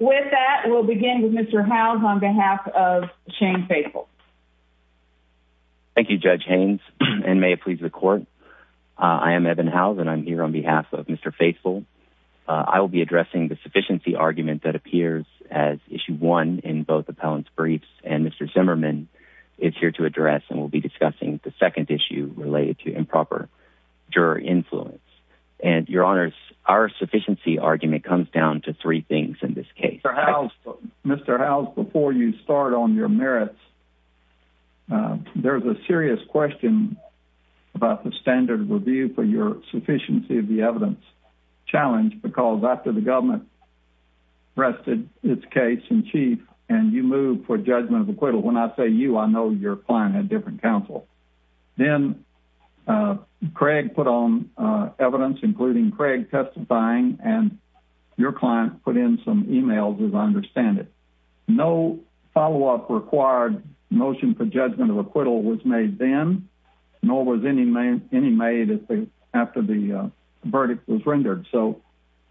With that we'll begin with Mr. Howes on behalf of Shane Faithful. Thank you Judge Haynes and may it please the court. I am Eben Howes and I'm here on behalf of Mr. Faithful. I will be addressing the sufficiency argument that appears as issue one in both appellant's briefs and Mr. Zimmerman is here to address and we'll be discussing the second issue related to improper juror influence. And your honors our sufficiency argument comes down to in this case. Mr. Howes before you start on your merits there's a serious question about the standard review for your sufficiency of the evidence challenge because after the government rested its case in chief and you move for judgment of acquittal when I say you I know your client had different counsel. Then Craig put on evidence including Craig testifying and your client put in some emails as I understand it. No follow-up required motion for judgment of acquittal was made then nor was any made after the verdict was rendered. So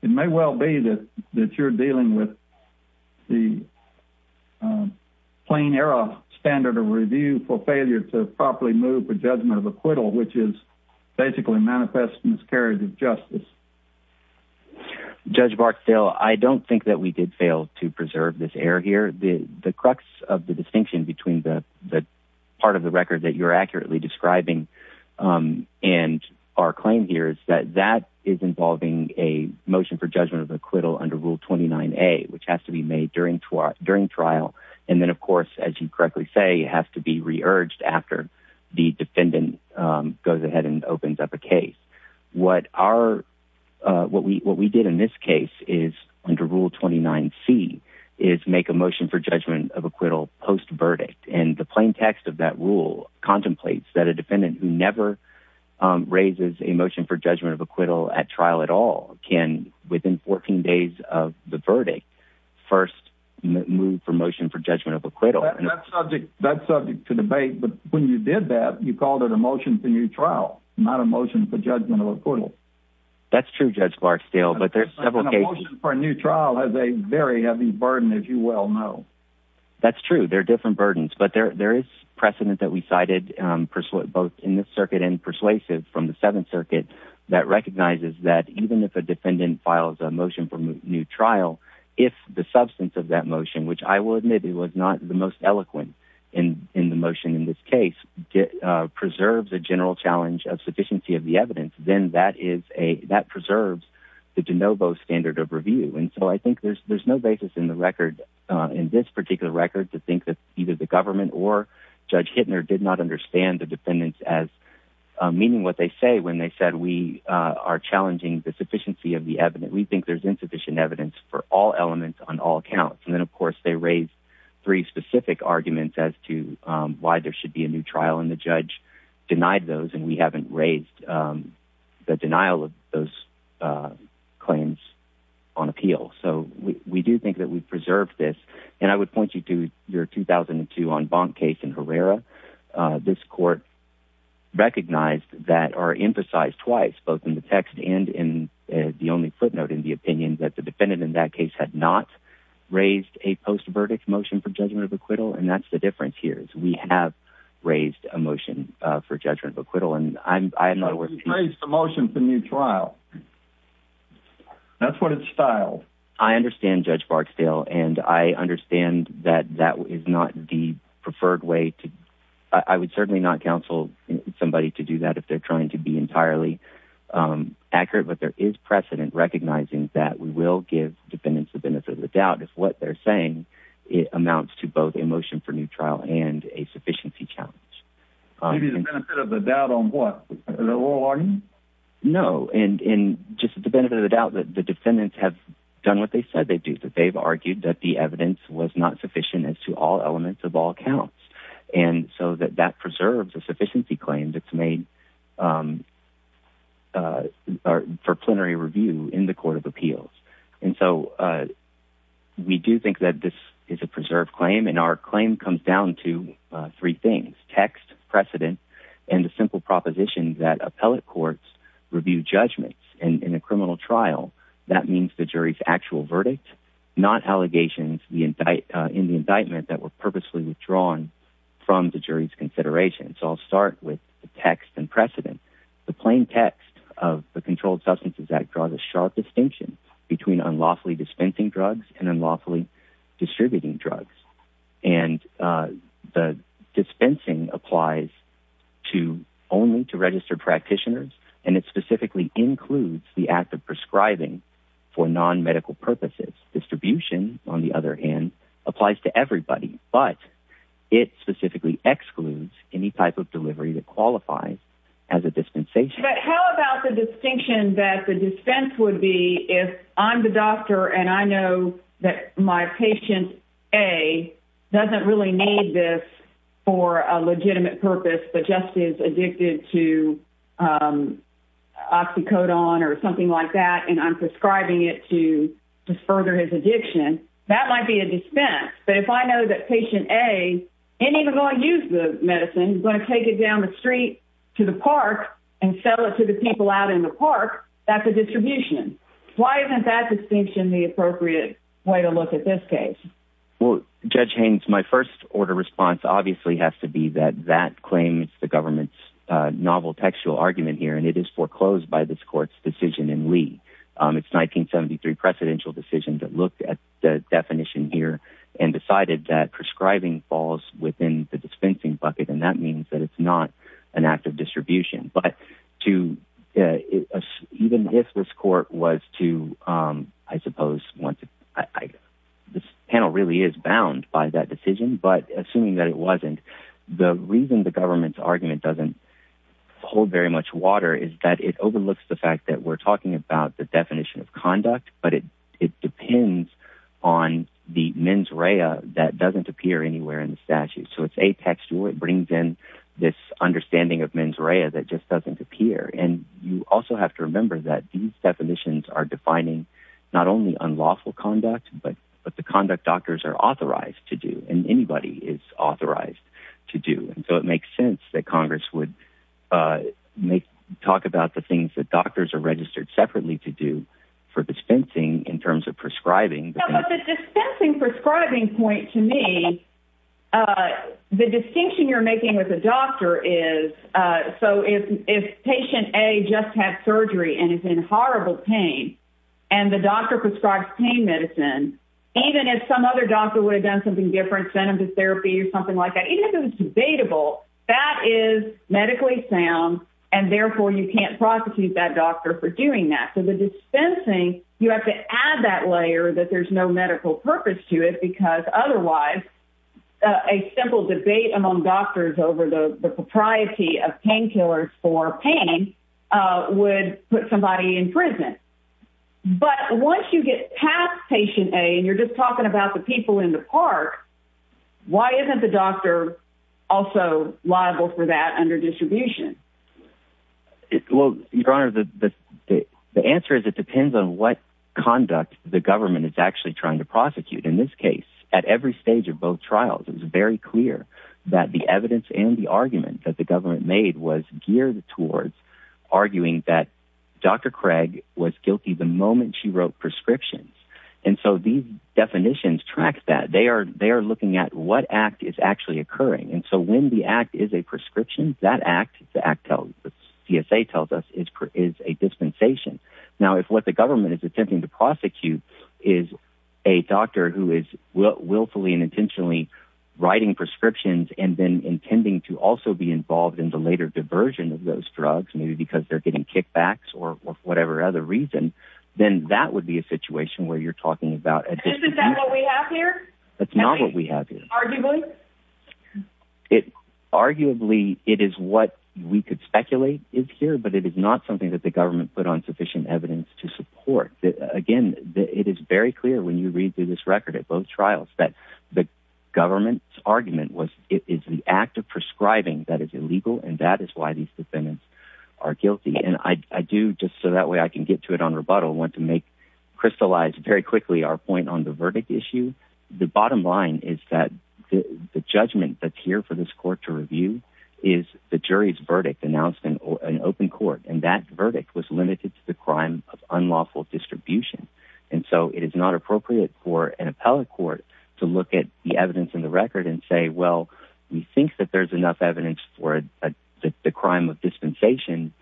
it may well be that that you're dealing with the plain error standard of review for failure to properly move for judgment of acquittal which is basically manifest miscarriage of justice. Judge Barstow I don't think that we did fail to preserve this error here. The the crux of the distinction between the the part of the record that you're accurately describing and our claim here is that that is involving a motion for judgment of acquittal under rule 29a which has to be made during trial and then of course as you correctly say it has to be re-urged after the defendant goes ahead and opens up a case. What our what we what we did in this case is under rule 29c is make a motion for judgment of acquittal post verdict and the plain text of that rule contemplates that a defendant who never raises a motion for judgment of acquittal at trial at all can within 14 days of the verdict first move for motion for judgment of acquittal. That's subject to debate but when you did that you called it a motion for new trial not a motion for judgment of acquittal. That's true Judge Barstow. But there's several cases for a new trial has a very heavy burden as you well know. That's true there are different burdens but there there is precedent that we cited um both in this circuit and persuasive from the seventh circuit that recognizes that even if a defendant files a motion for new trial if the substance of that motion which I would maybe was not the most eloquent in in the motion in this case preserves a general challenge of sufficiency of the evidence then that is a that preserves the de novo standard of review and so I think there's there's no basis in the record uh in this particular record to think that either the government or Judge Hittner did not understand the defendants as meaning what they say when they said we are challenging the sufficiency of the evidence we think there's insufficient evidence for all elements on all accounts and then of course they raised three specific arguments as to um why there should be a new trial and the judge denied those and we haven't raised um the denial of those uh claims on appeal so we we do think that we've preserved this and I would point you to your 2002 en banc case in Herrera this court recognized that are emphasized twice both in the text and in the only footnote in the opinion that the defendant in that case had not raised a post-verdict motion for judgment of acquittal and that's the difference here is we have raised a motion uh for judgment of acquittal and I'm I'm not worth the motion for new trial that's what it's style I understand Judge Barksdale and I understand that that is not the preferred way to I would certainly not counsel somebody to do that if they're trying to be entirely um accurate but there is precedent recognizing that we will give defendants the benefit of the doubt if what they're saying it amounts to both emotion for new trial and a sufficiency challenge maybe the benefit of the doubt on what the oral argument no and in just the benefit of the doubt that the defendants have done what they said they that they've argued that the evidence was not sufficient as to all elements of all counts and so that that preserves a sufficiency claim that's made um uh for plenary review in the court of appeals and so uh we do think that this is a preserved claim and our claim comes down to three things text precedent and a simple proposition that appellate courts review judgments and in a criminal trial that means the jury's actual verdict not allegations the indict in the indictment that were purposely withdrawn from the jury's consideration so I'll start with the text and precedent the plain text of the controlled substances act draws a sharp distinction between unlawfully dispensing drugs and unlawfully distributing drugs and uh the dispensing applies to only to registered practitioners and it specifically includes the act of prescribing for non-medical purposes distribution on the other hand applies to everybody but it specifically excludes any type of delivery that qualifies as a dispensation but how about the distinction that the defense would be if I'm the doctor and I know that my patient a doesn't really need this for a legitimate purpose but just is addicted to um oxycodone or something like that and I'm prescribing it to to further his addiction that might be a dispense but if I know that patient a and even though I use the medicine going to take it down the street to the park and sell it to the people out in the park that's a distribution why isn't that distinction the appropriate way to look at this case well Judge Haynes my first order response obviously has to be that that claims the government's uh novel textual argument here and it is foreclosed by this court's decision in lee um it's 1973 precedential decision that looked at the definition here and decided that prescribing falls within the dispensing bucket and that means that it's not an act of distribution but to even if this court was to um I suppose once I this panel really is bound by that decision but assuming that it wasn't the reason the government's argument doesn't hold very much water is that it overlooks the fact that we're talking about the definition of conduct but it it depends on the mens rea that doesn't appear anywhere in the statute so it's a brings in this understanding of mens rea that just doesn't appear and you also have to remember that these definitions are defining not only unlawful conduct but but the conduct doctors are authorized to do and anybody is authorized to do and so it makes sense that congress would uh make talk about the things that doctors are registered separately to do for dispensing in terms of prescribing but the dispensing prescribing point to me uh the distinction you're making with a doctor is uh so if if patient a just had surgery and it's in horrible pain and the doctor prescribes pain medicine even if some other doctor would have done something different centered therapy or something like that even if it was debatable that is medically sound and therefore you can't prosecute that doctor for doing that so the dispensing you have to add that layer that there's no medical purpose to it because otherwise a simple debate among doctors over the the propriety of painkillers for pain uh would put somebody in prison but once you get past patient a and you're just talking about the people in the park why isn't the doctor also liable for that under distribution well your honor the the the answer is it depends on what conduct the government is actually trying to prosecute in this case at every stage of both trials it was very clear that the evidence and the argument that the government made was geared towards arguing that dr craig was guilty the moment she wrote prescriptions and so these definitions track that they are they are looking at what act is actually occurring and so when the act is a prescription that act the act tells the csa tells us is is a dispensation now if what the government is attempting to prosecute is a doctor who is willfully and intentionally writing prescriptions and then intending to also be involved in the later diversion of those drugs maybe because they're getting kickbacks or whatever other reason then that would be a situation where you're talking about isn't that what we have here that's not what we have here arguably it arguably it is what we could speculate is here but it is not something that the government put on sufficient evidence to support that again it is very clear when you read through this record at both trials that the government's argument was it is the act of prescribing that is illegal and that is why these defendants are guilty and i i do just so that way i can get to it on rebuttal want to make crystallize very quickly our point on the verdict issue the bottom line is that the judgment that's here for this court to review is the jury's verdict announcement or an open court and that verdict was limited to the crime of unlawful distribution and so it is not appropriate for an appellate court to look at the evidence in the record and say well we think that there's enough evidence for the crime of dispensation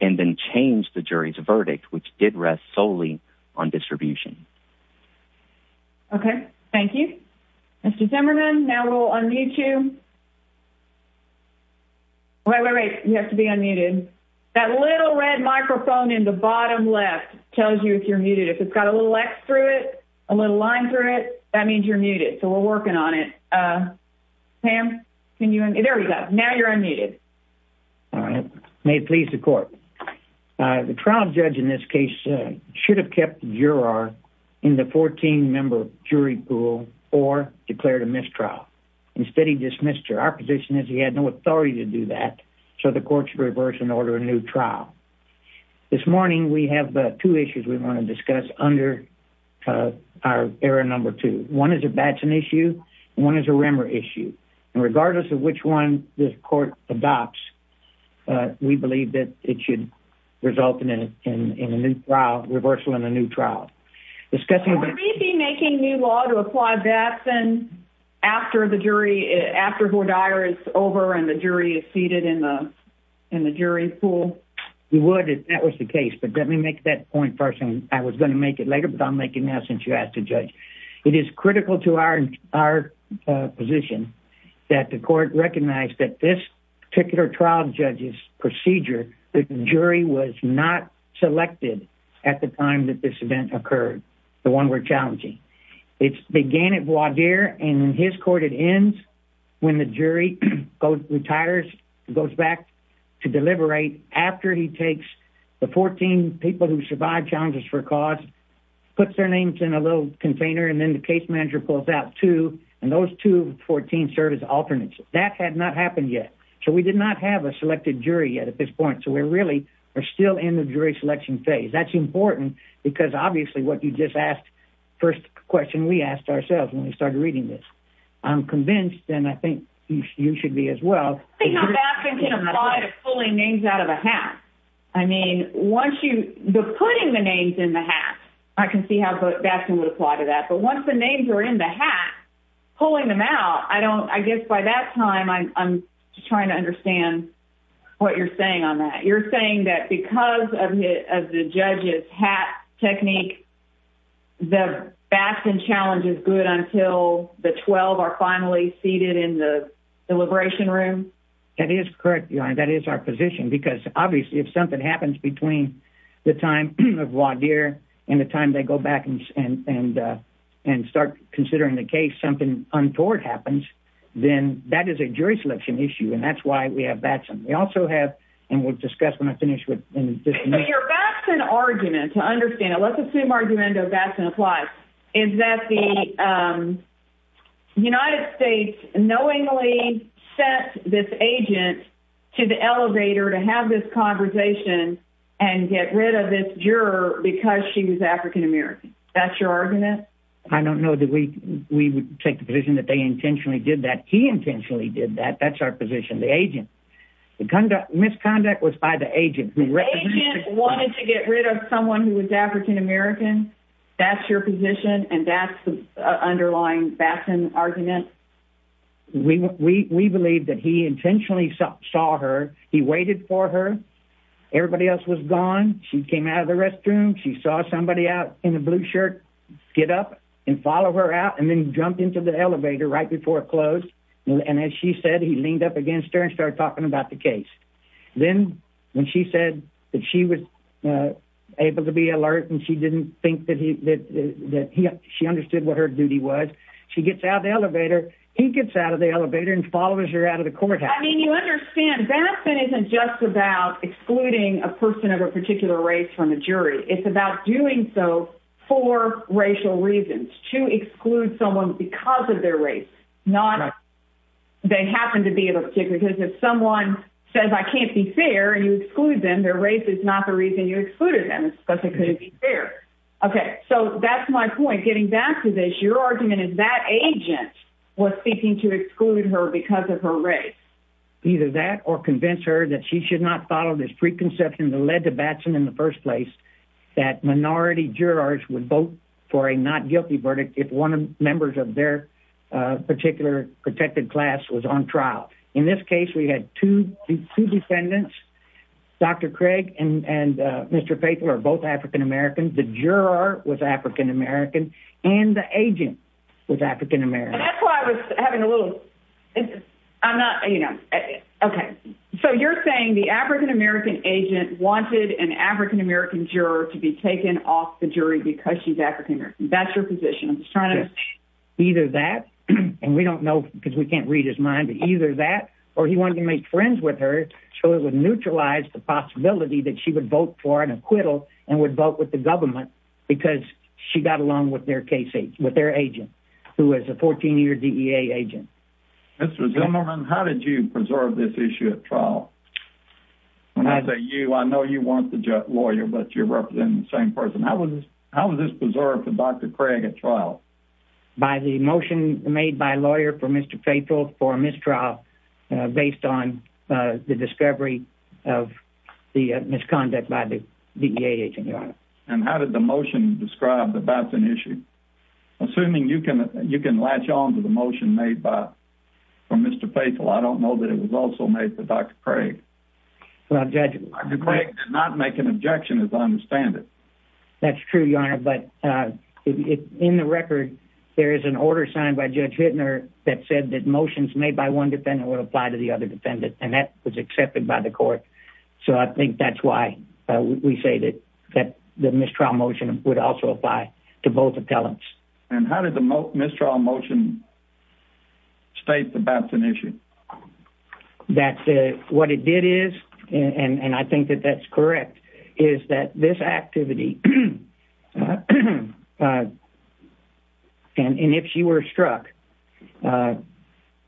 and then change the jury's verdict which did rest solely on distribution okay thank you mr zimmerman now we'll unmute you wait wait wait you have to be unmuted that little red microphone in the bottom left tells you if you're muted if it's got a little x through it a little line through it that means you're muted so we're working on it uh pam can you there we go now you're unmuted all right may it please the court uh the trial judge in this case should have kept the juror in the 14 member jury pool or declared a mistrial instead he dismissed her our position is he had no authority to do that so the court should reverse and order a new trial this morning we have two issues we want to discuss under uh our error number two one is a batching issue one is a batch uh we believe that it should result in in in a new trial reversal in a new trial discussing would we be making new law to apply that then after the jury after who dyer is over and the jury is seated in the in the jury pool we would if that was the case but let me make that point first and i was going to make it later but i'll make it now since you asked to judge it is critical to our our position that the court recognized that this particular trial judge's procedure the jury was not selected at the time that this event occurred the one we're challenging it began at voir dire and in his court it ends when the jury goes retires goes back to deliberate after he takes the 14 people who survived challenges for cause puts their names in a little container and then the case manager pulls out two and those 214 serve as alternates that had not happened yet so we did not have a selected jury yet at this point so we really are still in the jury selection phase that's important because obviously what you just asked first question we asked ourselves when we started reading this i'm convinced and i think you should be as well i think how bad things can apply to putting the names in the hat i can see how bastion would apply to that but once the names are in the hat pulling them out i don't i guess by that time i'm trying to understand what you're saying on that you're saying that because of the judge's hat technique the bastion challenge is good until the 12 are finally seated in the deliberation room that is correct your honor that is our position because obviously if something happens between the time of wadir and the time they go back and and uh and start considering the case something untoward happens then that is a jury selection issue and that's why we have batson we also have and we'll discuss when i finish with your batson argument to understand it let's assume argument of batson applies is that the um united states knowingly sent this agent to the elevator to have this conversation and get rid of this juror because she was african-american that's your argument i don't know that we we would take the position that they intentionally did that he intentionally did that that's our position the agent the conduct misconduct was by the agent wanted to get rid of someone who was african-american that's your position and that's underlying bastion argument we we we believe that he intentionally saw her he waited for her everybody else was gone she came out of the restroom she saw somebody out in the blue shirt get up and follow her out and then jump into the elevator right before it closed and as she said he leaned up against her and started talking about the case then when she said that she was able to be alert and she didn't think that he that that he she understood what her duty was she gets out the elevator he gets out of the elevator and follows her out of the courthouse i mean you understand that isn't just about excluding a person of a particular race from the jury it's about doing so for racial reasons to exclude someone because of their race not they happen to be able to because if someone says i can't be fair and you exclude them their race is not the reason you excluded them because it couldn't be fair okay so that's my point getting back to this your argument is that agent was seeking to exclude her because of her race either that or convince her that she should not follow this preconception that led to batson in the first place that minority jurors would vote for a not guilty verdict if one of members of their uh particular protected class was on trial in this case we had two two defendants dr craig and and uh mr faithful are both african-americans the juror was african-american and the agent was african-american that's why i was having a little i'm not you know okay so you're saying the african-american agent wanted an african-american juror to be taken off the jury because she's african-american that's your position i'm just trying to either that and we don't know because we can't read his mind but either that or he wanted to make friends with her so it would neutralize the possibility that she would vote for an acquittal and would vote with the government because she got along with their case with their agent who was a 14-year dea agent mr zimmerman how did you preserve this issue at trial when i say you i know you want the lawyer but you're representing the same person how was how was this preserved for dr craig at trial by the motion made by a lawyer for mr faithful for a mistrial uh based on uh the discovery of the misconduct by the dea agent and how did the motion describe the baton issue assuming you can you can latch on to the motion made by for mr faithful i don't know that it was also made for dr craig well judge did not make an objection as i understand it that's true your but uh in the record there is an order signed by judge hitler that said that motions made by one defendant would apply to the other defendant and that was accepted by the court so i think that's why we say that that the mistrial motion would also apply to both appellants and how did the mistrial motion state the baton issue that's what it did is and and i think that that's correct is that this activity and if she were struck uh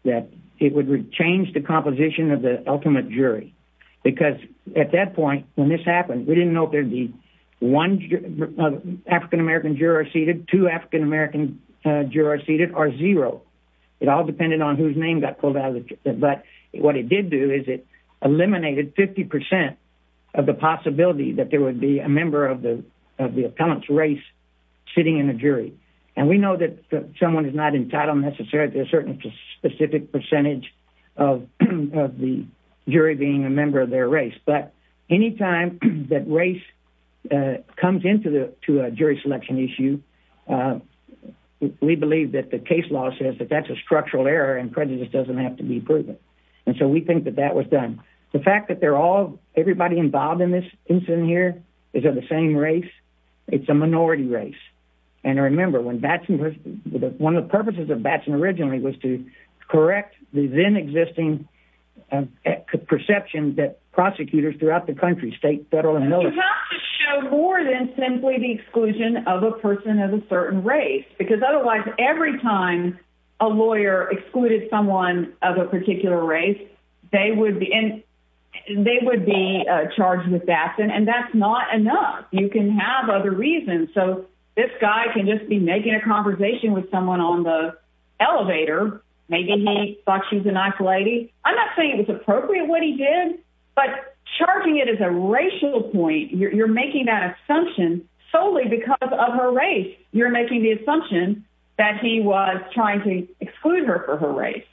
that it would change the composition of the ultimate jury because at that point when this happened we didn't know if there'd be one african-american juror seated two african-american uh jurors seated or zero it all depended on whose name got pulled out of the but what it did do is it eliminated 50 percent of the possibility that there would be a member of the of the appellant's race sitting in a jury and we know that someone is not entitled necessarily to a certain specific percentage of of the jury being a member of their race but anytime that race comes into the to a jury selection issue we believe that the case law says that that's a structural error and prejudice doesn't have to be proven and so we think that that was done the fact that they're all everybody involved in this incident here is of the same race it's a minority race and remember when batson was one of the purposes of batson originally was to correct the then existing perception that prosecutors throughout the country state federal and military have to show more than simply the exclusion of a person of a certain race because otherwise every time a lawyer excluded someone of a particular race they would be in they would be charged with that and that's not enough you can have other reasons so this guy can just be making a conversation with someone on the elevator maybe he thought she's a nice lady i'm not saying it was appropriate what he did but charging it as a racial point you're making that assumption solely because of her race you're making the assumption that he was trying to exclude her for her race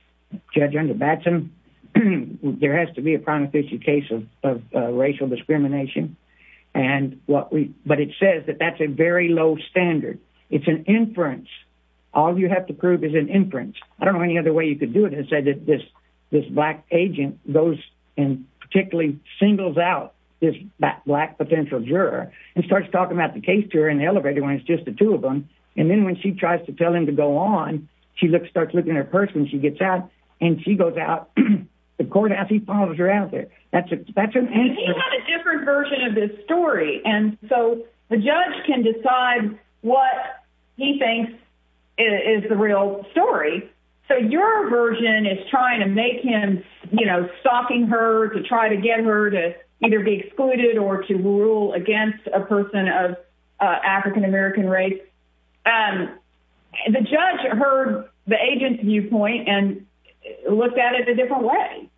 judge under batson there has to be a prima facie case of racial discrimination and what we but it says that that's a very low standard it's an inference all you have to prove is an inference i don't know any other way you could do it and say that this this black agent goes and particularly singles out this black potential juror and starts talking about the case to her in the elevator when it's just the two of them and then when she tries to tell him to go on she looks starts looking at her purse when she gets out and she goes out the court as he follows her out there that's a that's a different version of this story and so the judge can decide what he thinks is the real story so your version is trying to make him you know stalking her to try to get her to either be excluded or to rule against a person of african-american race um the judge heard the agent's viewpoint and looked at it a different way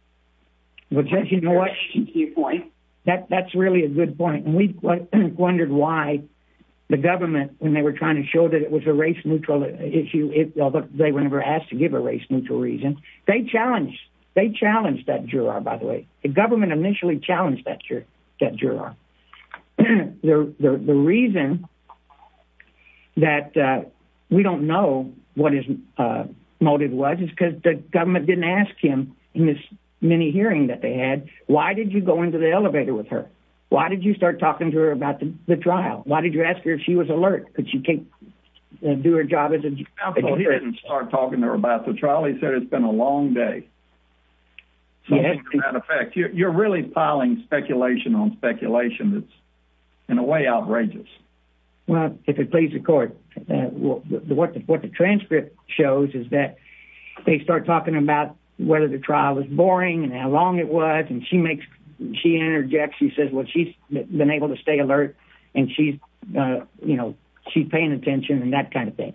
well judge you know what you point that that's really a good point and we wondered why the government when they were trying to show that was a race neutral issue it although they were never asked to give a race neutral reason they challenged they challenged that juror by the way the government initially challenged that that juror the the reason that uh we don't know what his uh motive was is because the government didn't ask him in this mini hearing that they had why did you go into the elevator with her why did you start talking to her about the trial why did you ask her if she was alert because you do her job as a he didn't start talking to her about the trial he said it's been a long day something to that effect you're really piling speculation on speculation that's in a way outrageous well if it please the court what the what the transcript shows is that they start talking about whether the trial was boring and how long it was and she makes she interjects she says well she's been able to stay alert and she's uh you know she's paying attention and that kind of thing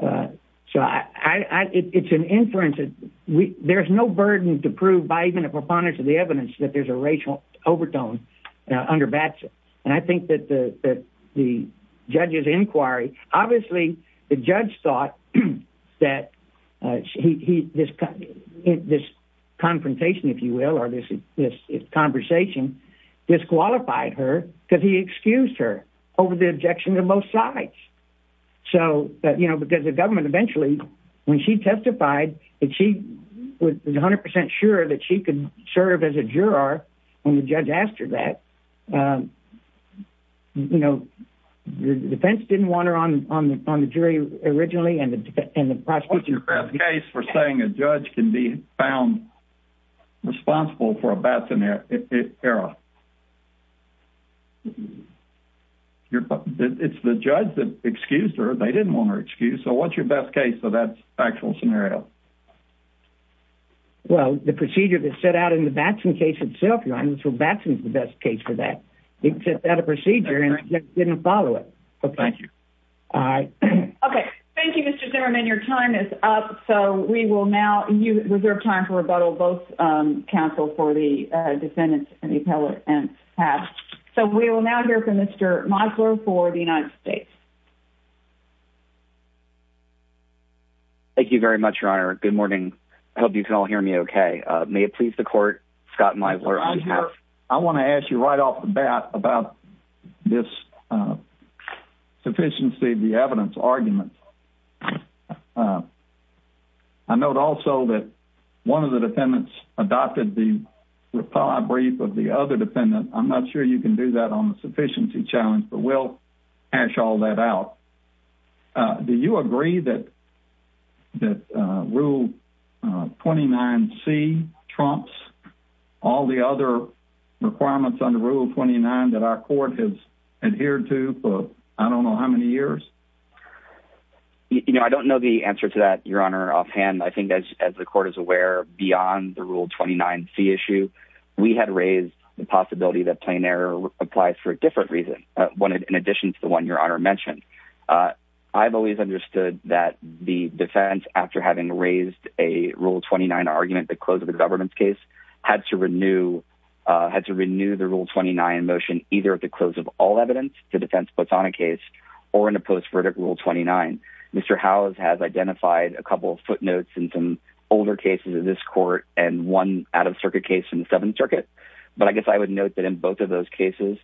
uh so i i it's an inference that we there's no burden to prove by even a preponderance of the evidence that there's a racial overtone uh under bats and i think that the that the judge's inquiry obviously the judge thought that uh he this this confrontation if you will or this is this conversation disqualified her because he excused her over the objections of both sides so that you know because the government eventually when she testified that she was 100 sure that she could serve as a juror when the judge asked her that um you know the defense didn't want her on on the jury originally and the and the prosecution case for saying a judge can be found responsible for a era it's the judge that excused her they didn't want her excused so what's your best case so that's actual scenario well the procedure that set out in the batson case itself you're honest well batson's the best case for that it set out a procedure and didn't follow it okay thank you all right okay thank you mr zimmerman your time is up so we will now you reserve time for rebuttal both um counsel for the uh defendants and the appellate and pass so we will now hear from mr misler for the united states thank you very much your honor good morning i hope you can all hear me okay uh may it please the court scott misler i want to ask you right off the bat about this uh sufficiency the evidence argument i note also that one of the defendants adopted the reply brief of the other defendant i'm not sure you can do that on the sufficiency challenge but we'll hash all that out uh do you agree that that uh rule 29 c trumps all the other requirements under rule 29 that our court has you know i don't know the answer to that your honor offhand i think as as the court is aware beyond the rule 29 c issue we had raised the possibility that plain error applies for a different reason one in addition to the one your honor mentioned uh i've always understood that the defense after having raised a rule 29 argument the close of the government's case had to renew uh had to renew the rule 29 motion either at the close of all evidence the defense puts on a case or in a post-verdict rule 29 mr house has identified a couple footnotes in some older cases of this court and one out-of-circuit case in the seventh circuit but i guess i would note that in both of those cases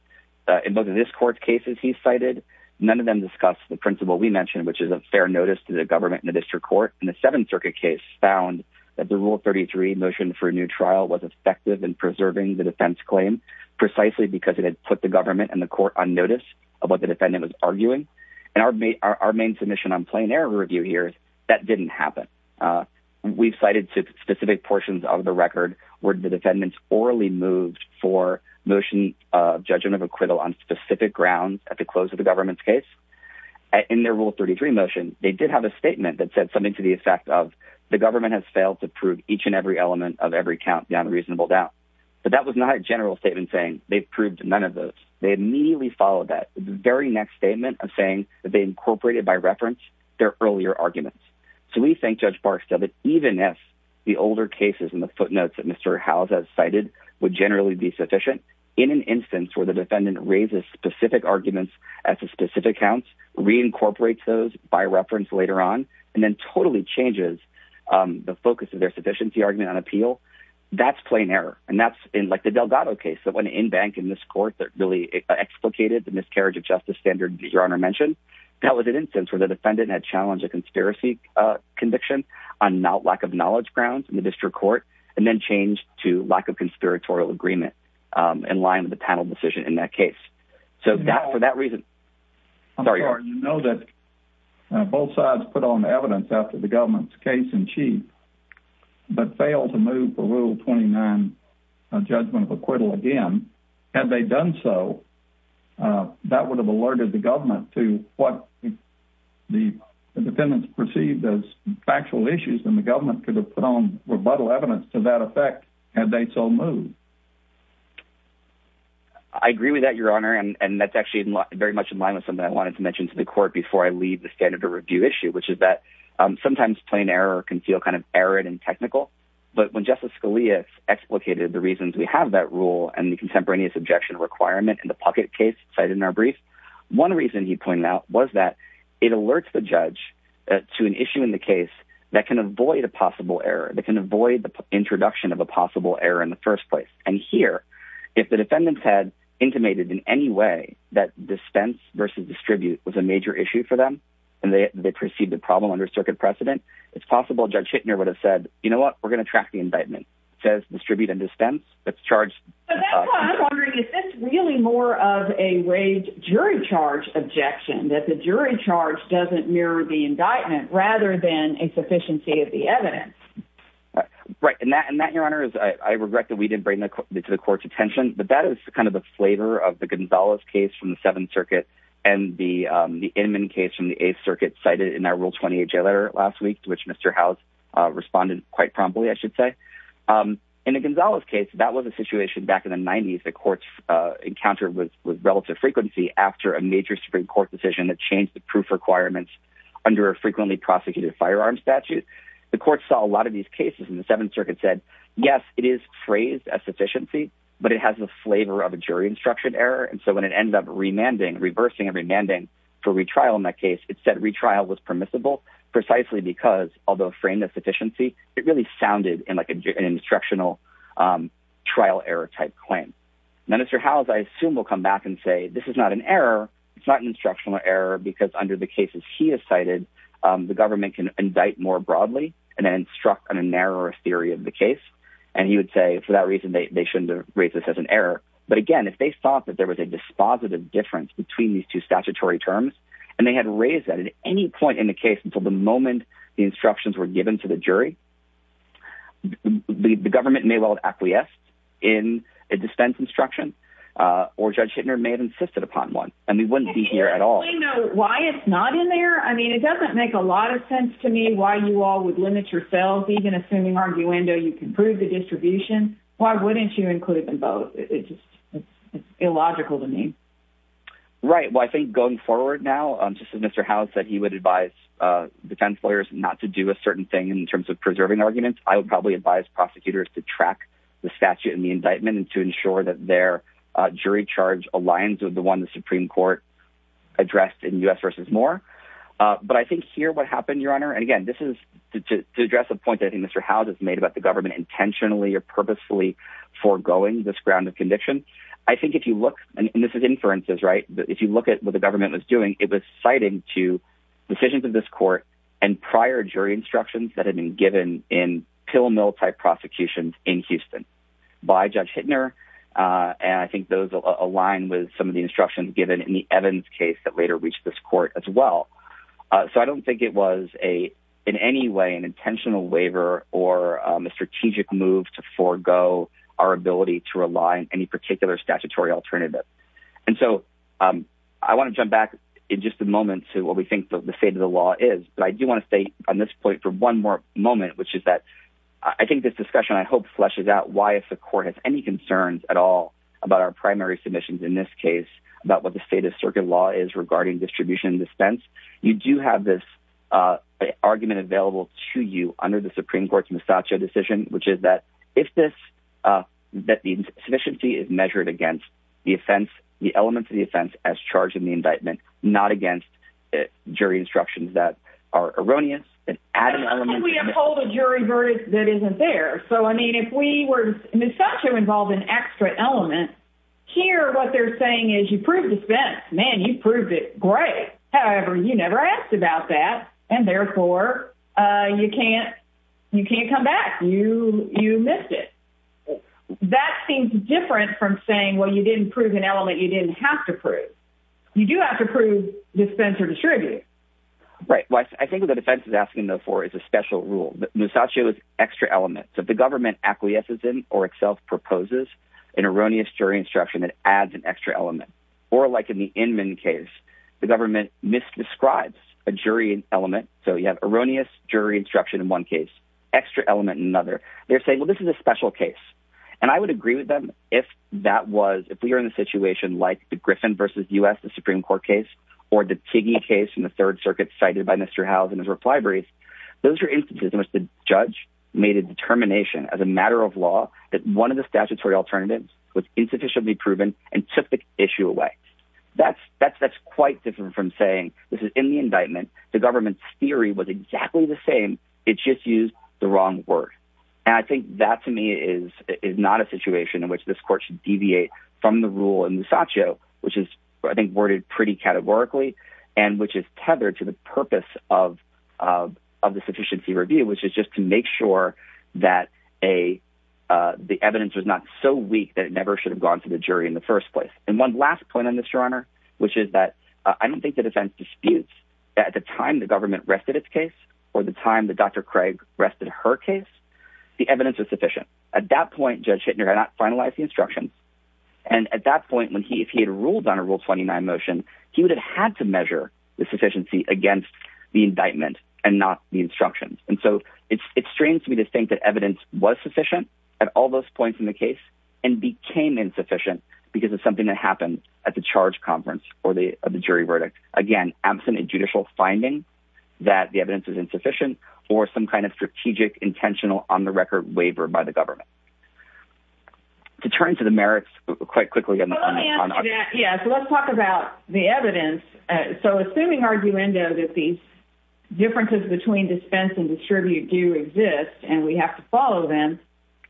in both of this court's cases he cited none of them discussed the principle we mentioned which is a fair notice to the government in the district court and the seventh circuit case found that the rule 33 motion for a new trial was effective in preserving the defense claim precisely because it had put the government and the court on notice of what the defendant was arguing and our main our main submission on plain error review here that didn't happen uh we've cited specific portions of the record where the defendants orally moved for motion uh judgment of acquittal on specific grounds at the close of the government's case in their rule 33 motion they did have a statement that said something to the effect of the government has failed to prove each and every element of every count beyond reasonable doubt but that was not a general statement saying they've proved none of those they immediately followed that the very next statement of saying that they incorporated by reference their earlier arguments so we think judge barks that even if the older cases and the footnotes that mr house has cited would generally be sufficient in an instance where the defendant raises specific arguments at the specific counts reincorporates those by reference later on and then totally changes the focus of their sufficiency argument on appeal that's plain error and that's in like the delgado case that went in bank in this court that really explicated the miscarriage of justice standard that your honor mentioned that was an instance where the defendant had challenged a conspiracy uh conviction on not lack of knowledge grounds in the district court and then changed to lack of conspiratorial agreement um in line with the panel decision in that case so that for that i'm sorry you know that both sides put on evidence after the government's case in chief but failed to move the rule 29 judgment of acquittal again had they done so uh that would have alerted the government to what the defendants perceived as factual issues and the government could have put on rebuttal evidence to that effect had they so moved i agree with that your honor and that's actually very much in line with something i wanted to mention to the court before i leave the standard review issue which is that um sometimes plain error can feel kind of arid and technical but when justice scalia explicated the reasons we have that rule and the contemporaneous objection requirement in the pocket case cited in our brief one reason he pointed out was that it alerts the judge to an issue in the case that can avoid a possible error that can avoid the introduction of a possible error in the first place and here if the defendants had intimated in any way that dispense versus distribute was a major issue for them and they perceived the problem under circuit precedent it's possible judge hittner would have said you know what we're going to track the indictment says distribute and dispense that's charged i'm wondering is this really more of a rage jury charge objection that the jury charge doesn't mirror the indictment rather than a sufficiency of the evidence right and that and that your honor is i regret that we didn't bring the to the court's attention but that is kind of the flavor of the gonzalez case from the seventh circuit and the um the inman case from the eighth circuit cited in our rule 28 j letter last week which mr house uh responded quite promptly i should say um in a gonzalez case that was a situation back in the 90s the court's uh encounter with with relative frequency after a major supreme court decision that changed the proof requirements under a frequently prosecuted firearm statute the court saw a lot of these cases in the seventh circuit said yes it is phrased as sufficiency but it has the flavor of a jury instruction error and so when it ends up remanding reversing and remanding for retrial in that case it said retrial was permissible precisely because although framed as sufficiency it really sounded in like an instructional um trial error type claim minister house i assume will come back and say this is not an error it's not an instructional error because under the cases he has cited um the government can indict more broadly and then instruct on a narrower theory of the case and he would say for that reason they shouldn't raise this as an error but again if they thought that there was a dispositive difference between these two statutory terms and they had raised that at any point in the case until the moment the uh or judge hitler may have insisted upon one and we wouldn't be here at all why it's not in there i mean it doesn't make a lot of sense to me why you all would limit yourself even assuming arguendo you can prove the distribution why wouldn't you include them both it just it's illogical to me right well i think going forward now um just as mr house said he would advise uh defense lawyers not to do a certain thing in terms of preserving arguments i would probably advise prosecutors to track the statute and the indictment and to ensure that their uh jury charge aligns with the one the supreme court addressed in u.s versus more uh but i think here what happened your honor and again this is to address a point i think mr house has made about the government intentionally or purposefully foregoing this ground of conviction i think if you look and this is inferences right but if you look at what the government was doing it was citing to prosecutions in houston by judge hitler uh and i think those align with some of the instructions given in the evans case that later reached this court as well uh so i don't think it was a in any way an intentional waiver or a strategic move to forego our ability to rely on any particular statutory alternative and so um i want to jump back in just a moment to what we think that the but i do want to stay on this point for one more moment which is that i think this discussion i hope fleshes out why if the court has any concerns at all about our primary submissions in this case about what the state of circuit law is regarding distribution dispense you do have this uh argument available to you under the supreme court's misachio decision which is that if this uh that the sufficiency is measured against the offense the elements of the offense as charged in the that are erroneous and adding elements we have pulled a jury verdict that isn't there so i mean if we were misogynous involved in extra element here what they're saying is you prove dispense man you proved it great however you never asked about that and therefore uh you can't you can't come back you you missed it that seems different from saying well you didn't prove an element you didn't have to prove you do have to prove dispense or distribute right well i think the defense is asking though for is a special rule misogynous extra element so the government acquiesces in or itself proposes an erroneous jury instruction that adds an extra element or like in the inman case the government misdescribes a jury element so you have erroneous jury instruction in one case extra element in another they're saying well this is a special case and i would agree with them if that was if we are in a situation like the griffin versus u.s the supreme court case or the tiggy case in the third circuit cited by mr house and his reply breeze those are instances in which the judge made a determination as a matter of law that one of the statutory alternatives was insufficiently proven and took the issue away that's that's that's quite different from saying this is in the indictment the government's theory was exactly the same it just used the wrong word and i think that to me is is not a situation in which this court should deviate from the rule in misogyno which is i think worded pretty categorically and which is tethered to the purpose of of the sufficiency review which is just to make sure that a uh the evidence was not so weak that it never should have gone to the jury in the first place and one last point on this your honor which is that i don't think the defense disputes at the time the government rested its or the time that dr craig rested her case the evidence was sufficient at that point judge hittner had not finalized the instructions and at that point when he if he had ruled on a rule 29 motion he would have had to measure the sufficiency against the indictment and not the instructions and so it's it strains me to think that evidence was sufficient at all those points in the case and became insufficient because it's something that happened at the charge conference or the jury verdict again absent a judicial finding that the evidence is insufficient or some kind of strategic intentional on the record waiver by the government to turn to the merits quite quickly let's talk about the evidence so assuming arguendo that these differences between dispense and distribute do exist and we have to follow them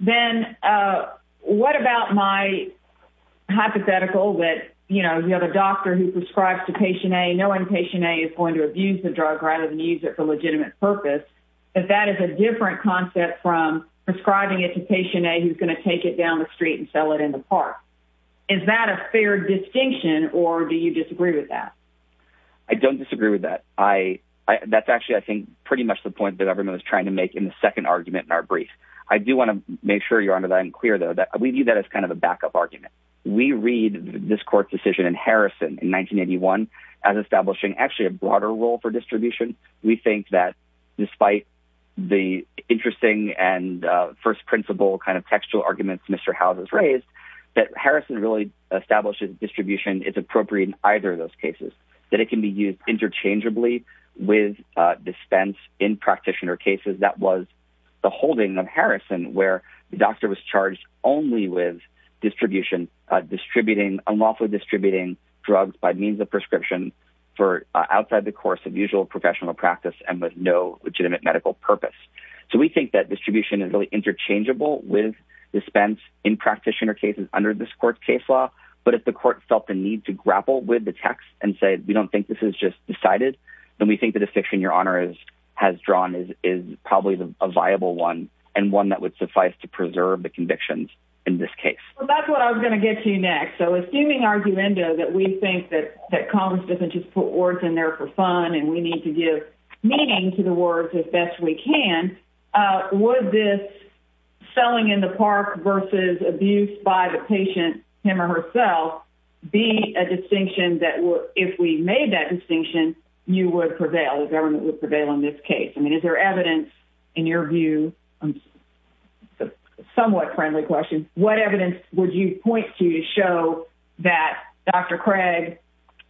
then uh what about my hypothetical that you know you have a doctor who prescribes to patient a knowing patient a is going to abuse the drug rather than use it for legitimate purpose but that is a different concept from prescribing it to patient a who's going to take it down the street and sell it in the park is that a fair distinction or do you disagree with that i don't disagree with that i i that's actually i think pretty much the point that everyone was trying to make in the second argument in our brief i do want to make sure your honor that i'm clear though that we view that as kind of a backup argument we read this court's decision in harrison in 1981 as establishing actually a broader role for distribution we think that despite the interesting and uh first principle kind of textual arguments mr house has raised that harrison really establishes distribution it's appropriate in either of those cases that it can be used interchangeably with uh dispense in practitioner cases that was the holding of harrison where the doctor was charged only with distribution distributing unlawfully distributing drugs by means of prescription for outside the course of usual professional practice and with no legitimate medical purpose so we think that distribution is really interchangeable with dispense in practitioner cases under this court's case law but if the court felt the need to grapple with the text and say we don't think this is just decided then we think that the fiction your honor is has drawn is is probably a viable one and one that would suffice to preserve the convictions in this case that's what i was going to get to you next so assuming arguendo that we think that that congress doesn't just put words in there for fun and we need to give meaning to the words as best we can uh would this selling in the park versus abuse by him or herself be a distinction that will if we made that distinction you would prevail the government would prevail in this case i mean is there evidence in your view a somewhat friendly question what evidence would you point to to show that dr craig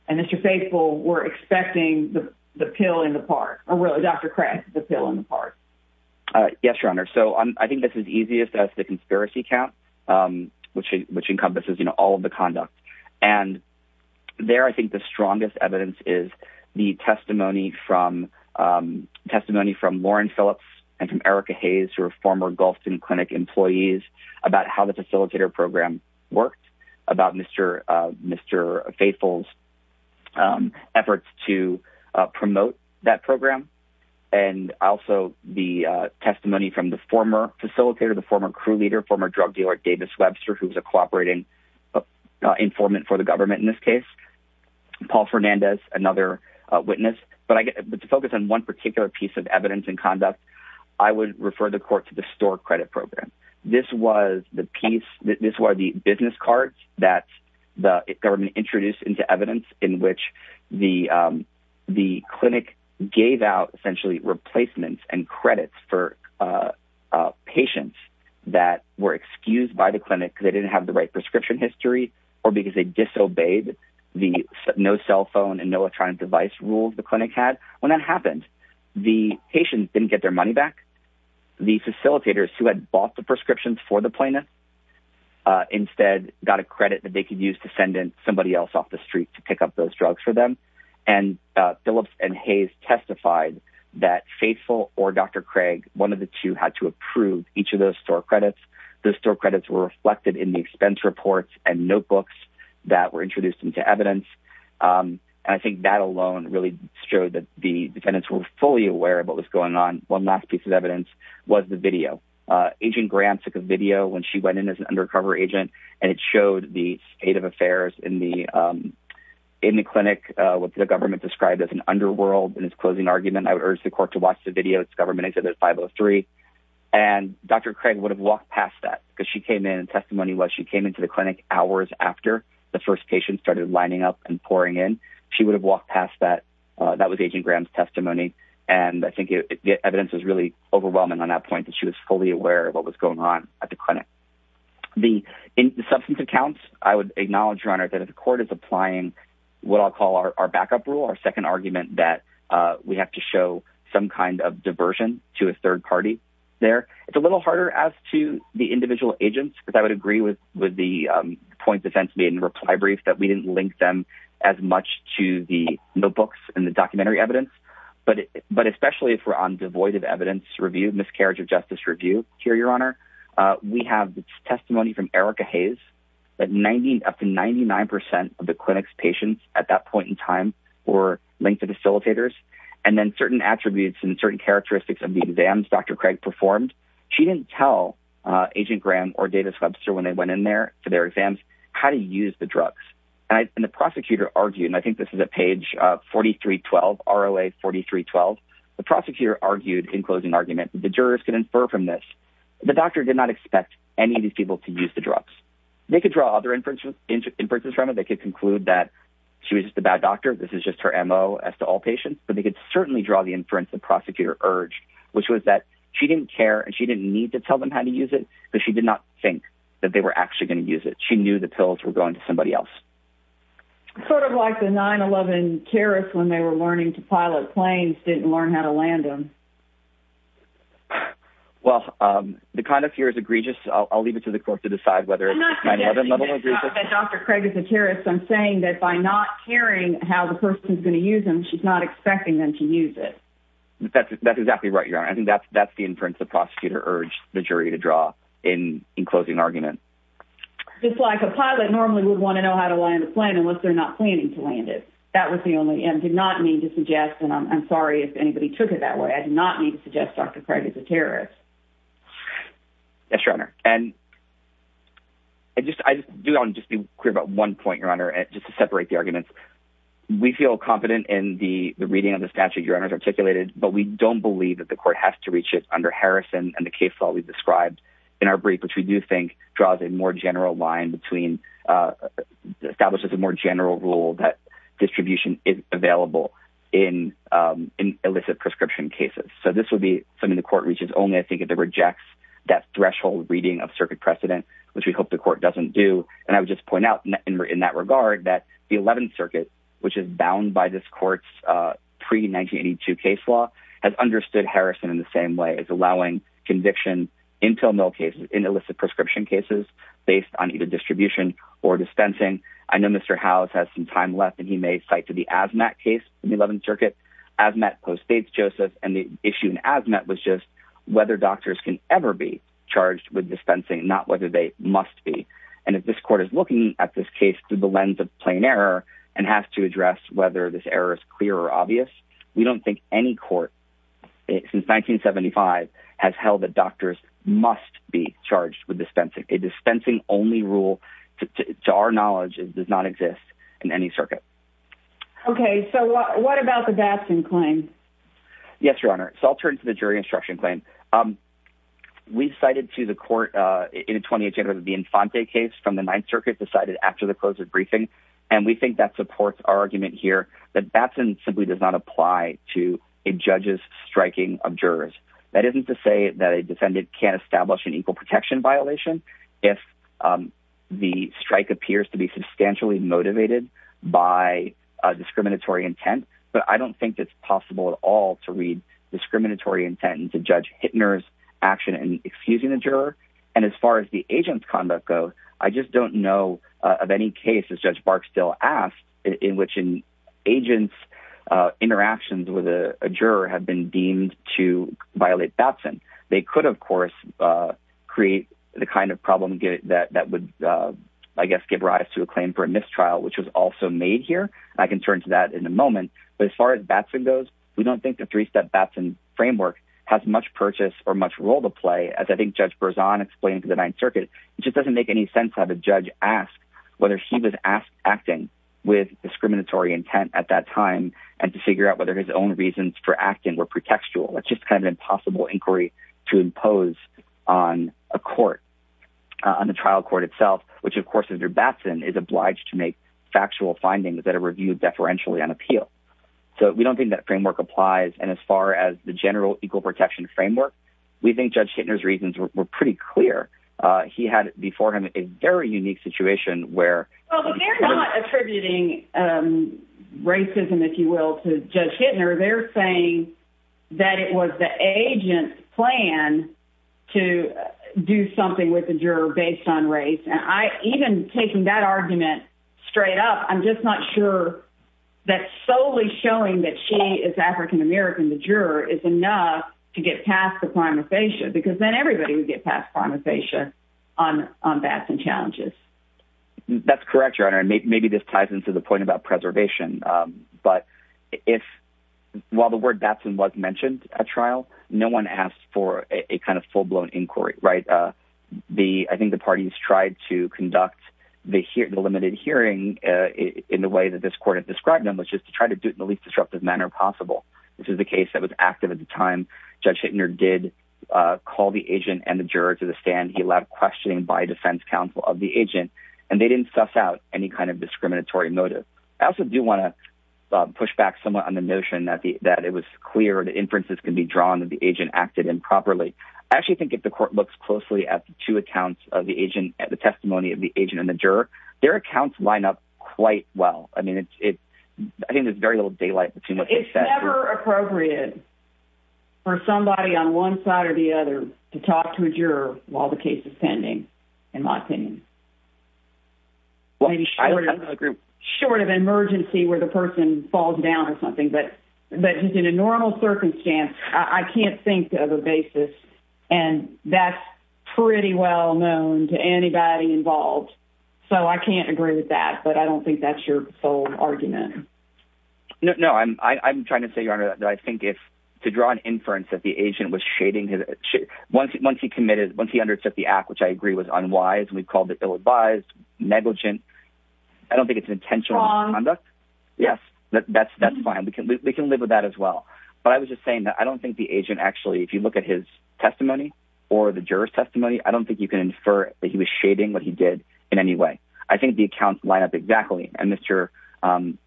and mr faithful were expecting the the pill in the park or really dr craig the pill in the park uh yes your honor so i think this is as the conspiracy count um which which encompasses you know all of the conduct and there i think the strongest evidence is the testimony from um testimony from lauren phillips and from erica hayes who are former gulfston clinic employees about how the facilitator program worked about mr uh mr faithful's um efforts to uh promote that program and also the uh testimony from the former facilitator the former crew leader former drug dealer davis webster who's a cooperating informant for the government in this case paul fernandez another witness but i get to focus on one particular piece of evidence and conduct i would refer the court to the store credit program this was the piece this was the business card that the government introduced in which the um the clinic gave out essentially replacements and credits for uh uh patients that were excused by the clinic because they didn't have the right prescription history or because they disobeyed the no cell phone and no electronic device rules the clinic had when that happened the patients didn't get their money back the facilitators who had bought the prescriptions for the plaintiff instead got a credit that they could use to send in somebody else off the street to pick up those drugs for them and phillips and hayes testified that faithful or dr craig one of the two had to approve each of those store credits those store credits were reflected in the expense reports and notebooks that were introduced into evidence and i think that alone really showed that the defendants were fully aware of what was going on one last piece of evidence was the video uh agent graham took a video when she went in as an undercover agent and it showed the state of affairs in the um in the clinic uh what the government described as an underworld in his closing argument i would urge the court to watch the video it's government exhibit 503 and dr craig would have walked past that because she came in testimony was she came into the clinic hours after the first patient started lining up and pouring in she would have walked past that that was agent graham's testimony and i think the evidence was really overwhelming on that point that she was fully aware of what was going on at the clinic the in substance accounts i would acknowledge your honor that the court is applying what i'll call our backup rule our second argument that uh we have to show some kind of diversion to a third party there it's a little harder as to the individual agents but i would agree with with the um point defense made in reply brief that we didn't link them as much to the notebooks and the documentary evidence but but especially if we're on devoid of evidence review miscarriage of justice review here your honor uh we have testimony from erica hayes that 90 up to 99 of the clinic's patients at that point in time were linked to facilitators and then certain attributes and certain characteristics of the exams dr craig performed she didn't tell uh agent graham or davis webster when they went in there for their exams how to use the drugs and the prosecutor argued and i think this is at page uh 4312 roa 4312 the prosecutor argued in closing argument the jurors can infer from this the doctor did not expect any of these people to use the drugs they could draw other inferences inferences from it they could conclude that she was just a bad doctor this is just her mo as to all patients but they could certainly draw the inference the prosecutor urged which was that she didn't care and she didn't need to tell them how to use it but she did not think that they were actually going to use it she knew the pills were going to somebody else sort of like the 9-11 terrorist when they were learning to pilot planes didn't learn how to land them well um the kind of fear is egregious i'll leave it to the court to decide whether it's not that dr craig is a terrorist i'm saying that by not caring how the person is going to use them she's not expecting them to use it that's that's exactly right your honor i think that's that's the inference the prosecutor urged the jury to draw in in closing argument just like a pilot normally would want to know how to land the plane unless they're not planning to land it that was the only and did not need to suggest and i'm sorry if anybody took it that way i did not need to suggest dr craig is a terrorist yes your honor and i just i just do i want to just be clear about one point your honor and just to separate the arguments we feel confident in the the reading of the statute your honors articulated but we don't believe that the court has to reach it under harrison and the case law we've described in our brief which we do think draws a more general line between uh establishes a more general rule that distribution is available in um in illicit prescription cases so this would be something the court reaches only i think if it rejects that threshold reading of circuit precedent which we hope the court doesn't do and i would just point out in that regard that the 11th circuit which is bound by this court's uh pre-1982 case has understood harrison in the same way as allowing conviction until no cases in illicit prescription cases based on either distribution or dispensing i know mr house has some time left and he may cite to the asthma case in the 11th circuit as met post dates joseph and the issue in azmat was just whether doctors can ever be charged with dispensing not whether they must be and if this court is looking at this case through the lens of plain error and has to address whether this error is clear or obvious we don't think any court since 1975 has held that doctors must be charged with dispensing a dispensing only rule to our knowledge does not exist in any circuit okay so what about the dapson claim yes your honor so i'll turn to the jury instruction claim we cited to the court uh in the 20th january the infante case from the ninth circuit decided after the closed briefing and we think that supports our argument here that batson simply does not apply to a judge's striking of jurors that isn't to say that a defendant can't establish an equal protection violation if um the strike appears to be substantially motivated by a discriminatory intent but i don't think it's possible at all to read discriminatory intent and to judge hitner's action and excusing the juror and as far as the agent's conduct go i just don't know of any cases judge bark still asked in which in agents uh interactions with a juror have been deemed to violate batson they could of course uh create the kind of problem that that would uh i guess give rise to a claim for a mistrial which was also made here i can turn to that in a moment but as far as batson goes we don't think the three-step batson framework has much purchase or much role to play as i think judge berzon explained to the ninth circuit it doesn't make any sense how the judge asked whether he was asked acting with discriminatory intent at that time and to figure out whether his own reasons for acting were pretextual that's just kind of an impossible inquiry to impose on a court on the trial court itself which of course is your batson is obliged to make factual findings that are reviewed deferentially on appeal so we don't think that framework applies and as far as the general equal protection framework we think judge reasons were pretty clear uh he had before him a very unique situation where well they're not attributing um racism if you will to judge hittner they're saying that it was the agent's plan to do something with the juror based on race and i even taking that argument straight up i'm just not sure that solely showing that she is african-american the juror is enough to get past the prima facie because then everybody would get past prima facie on on batson challenges that's correct your honor and maybe this ties into the point about preservation um but if while the word batson was mentioned at trial no one asked for a kind of full-blown inquiry right uh the i think the parties tried to conduct the here the limited hearing uh in the way that this court described them was just to try to do it in the least disruptive manner possible this is the case that was active at the time judge hittner did uh call the agent and the juror to the stand he left questioning by defense counsel of the agent and they didn't suss out any kind of discriminatory motive i also do want to push back somewhat on the notion that the that it was clear the inferences can be drawn that the agent acted improperly i actually think if the court looks closely at the two accounts of the agent at the testimony of the agent and the juror their accounts line up quite well i mean it's it's i think there's very little daylight but it's never appropriate for somebody on one side or the other to talk to a juror while the case is pending in my opinion maybe short of a group short of emergency where the person falls down or something but but just in a normal circumstance i can't think of a basis and that's pretty well known to anybody involved so i can't agree with that but i don't think that's your full argument no i'm i'm trying to say your honor that i think if to draw an inference that the agent was shading his once once he committed once he undertook the act which i agree was unwise we've called it ill-advised negligent i don't think it's intentional conduct yes that's that's fine we can we can live with that as well but i was just saying that i don't think the agent actually if you look at his testimony i don't think you can infer that he was shading what he did in any way i think the accounts line up exactly and mr um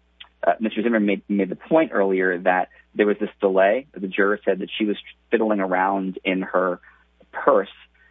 mr zimmer made made the point earlier that there was this delay the juror said that she was fiddling around in her purse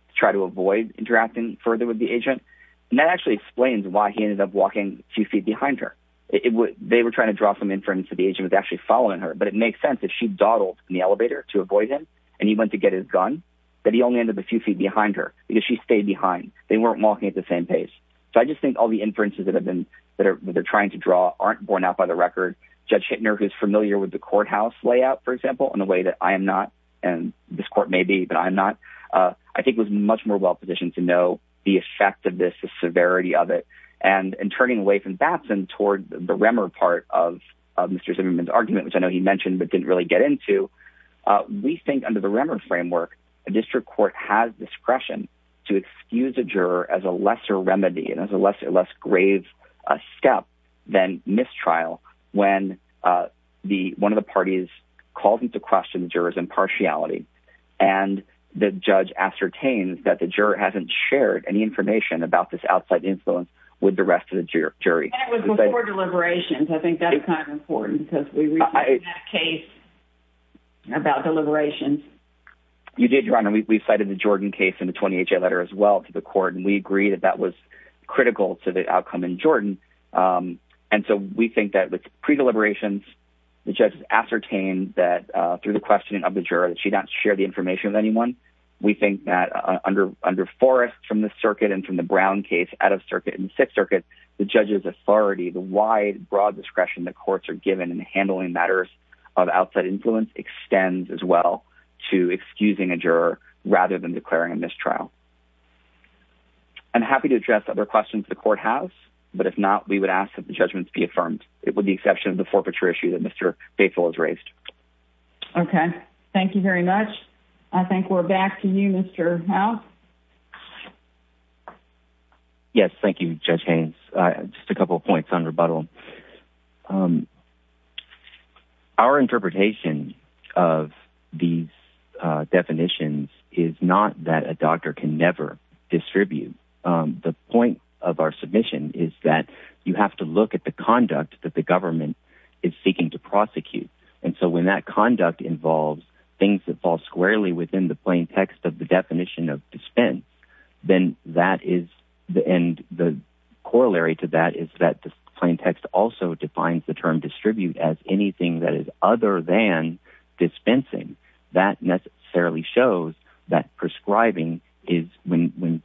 to try to avoid interacting further with the agent and that actually explains why he ended up walking a few feet behind her it would they were trying to draw some inference that the agent was actually following her but it makes sense that she dawdled in the elevator to avoid him and he went to get his gun but he only ended up a few feet behind her because she stayed behind they weren't walking at the same pace so i just think all the inferences that have been that are they're trying to draw aren't borne out by the record judge hittner who's familiar with the courthouse layout for example in a way that i am not and this court may be but i'm not uh i think was much more well positioned to know the effect of this the severity of it and in turning away from batson toward the remmer part of mr zimmerman's argument which i know he mentioned but didn't really get into uh we have discretion to excuse a juror as a lesser remedy and as a lesser less grave a step than mistrial when uh the one of the parties calls into question the jurors impartiality and the judge ascertains that the juror hasn't shared any information about this outside influence with the rest of the jury and it was before deliberations i think that's kind of important in that case about deliberations you did your honor we cited the jordan case in the 20ha letter as well to the court and we agree that that was critical to the outcome in jordan um and so we think that with pre-deliberations the judge ascertained that uh through the questioning of the juror that she not share the information with anyone we think that under under forest from the circuit and from the brown case out of circuit in the sixth circuit the judge's authority the wide broad discretion the courts are given in handling matters of outside influence extends as well to excusing a juror rather than declaring a mistrial i'm happy to address other questions the court has but if not we would ask that the judgments be affirmed it would be exception of the forfeiture issue that mr faithful is raised okay thank you very much i think we're back to mr how yes thank you judge haynes uh just a couple points on rebuttal um our interpretation of these uh definitions is not that a doctor can never distribute um the point of our submission is that you have to look at the conduct that the government is seeking to prosecute and so when that conduct involves things that fall squarely within the plain text of the definition of dispense then that is the end the corollary to that is that the plain text also defines the term distribute as anything that is other than dispensing that necessarily shows that prescribing is when when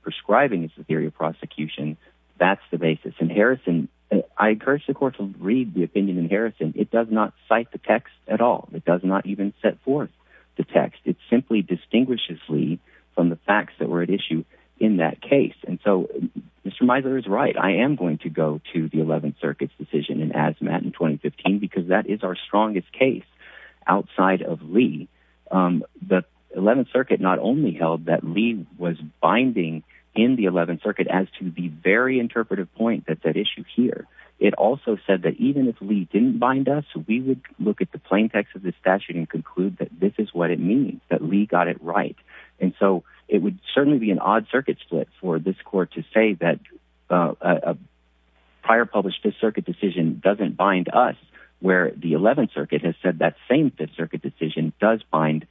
prescribing is the theory of prosecution that's the basis in harrison i cite the text at all it does not even set forth the text it simply distinguishes lee from the facts that were at issue in that case and so mr miser is right i am going to go to the 11th circuit's decision in azmat in 2015 because that is our strongest case outside of lee um the 11th circuit not only held that lee was binding in the 11th circuit as to the very interpretive point that issue here it also said that even if lee didn't bind us we would look at the plain text of the statute and conclude that this is what it means that lee got it right and so it would certainly be an odd circuit split for this court to say that a prior published fifth circuit decision doesn't bind us where the 11th circuit has said that same fifth circuit decision does bind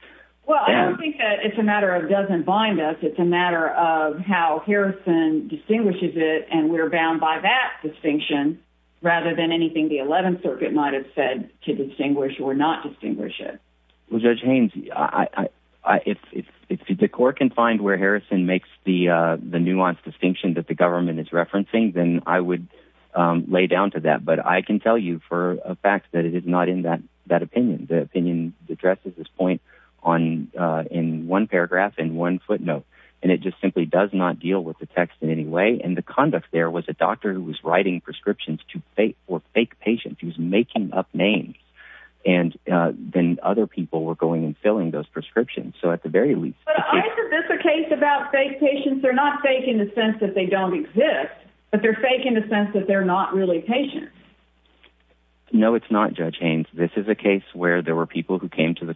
well i don't think that it's a matter of doesn't bind us it's a matter of how harrison distinguishes it and we're bound by that distinction rather than anything the 11th circuit might have said to distinguish or not distinguish it well judge haynes i i if if the court can find where harrison makes the uh the nuanced distinction that the government is referencing then i would um lay down to that but i can tell you for a fact that it is not in that that opinion the opinion addresses this point on uh in one paragraph in one footnote and it just does not deal with the text in any way and the conduct there was a doctor who was writing prescriptions to fake or fake patients he was making up names and uh then other people were going and filling those prescriptions so at the very least is this a case about fake patients they're not fake in the sense that they don't exist but they're fake in the sense that they're not really patient no it's not judge haynes this is a case where there were people who came to the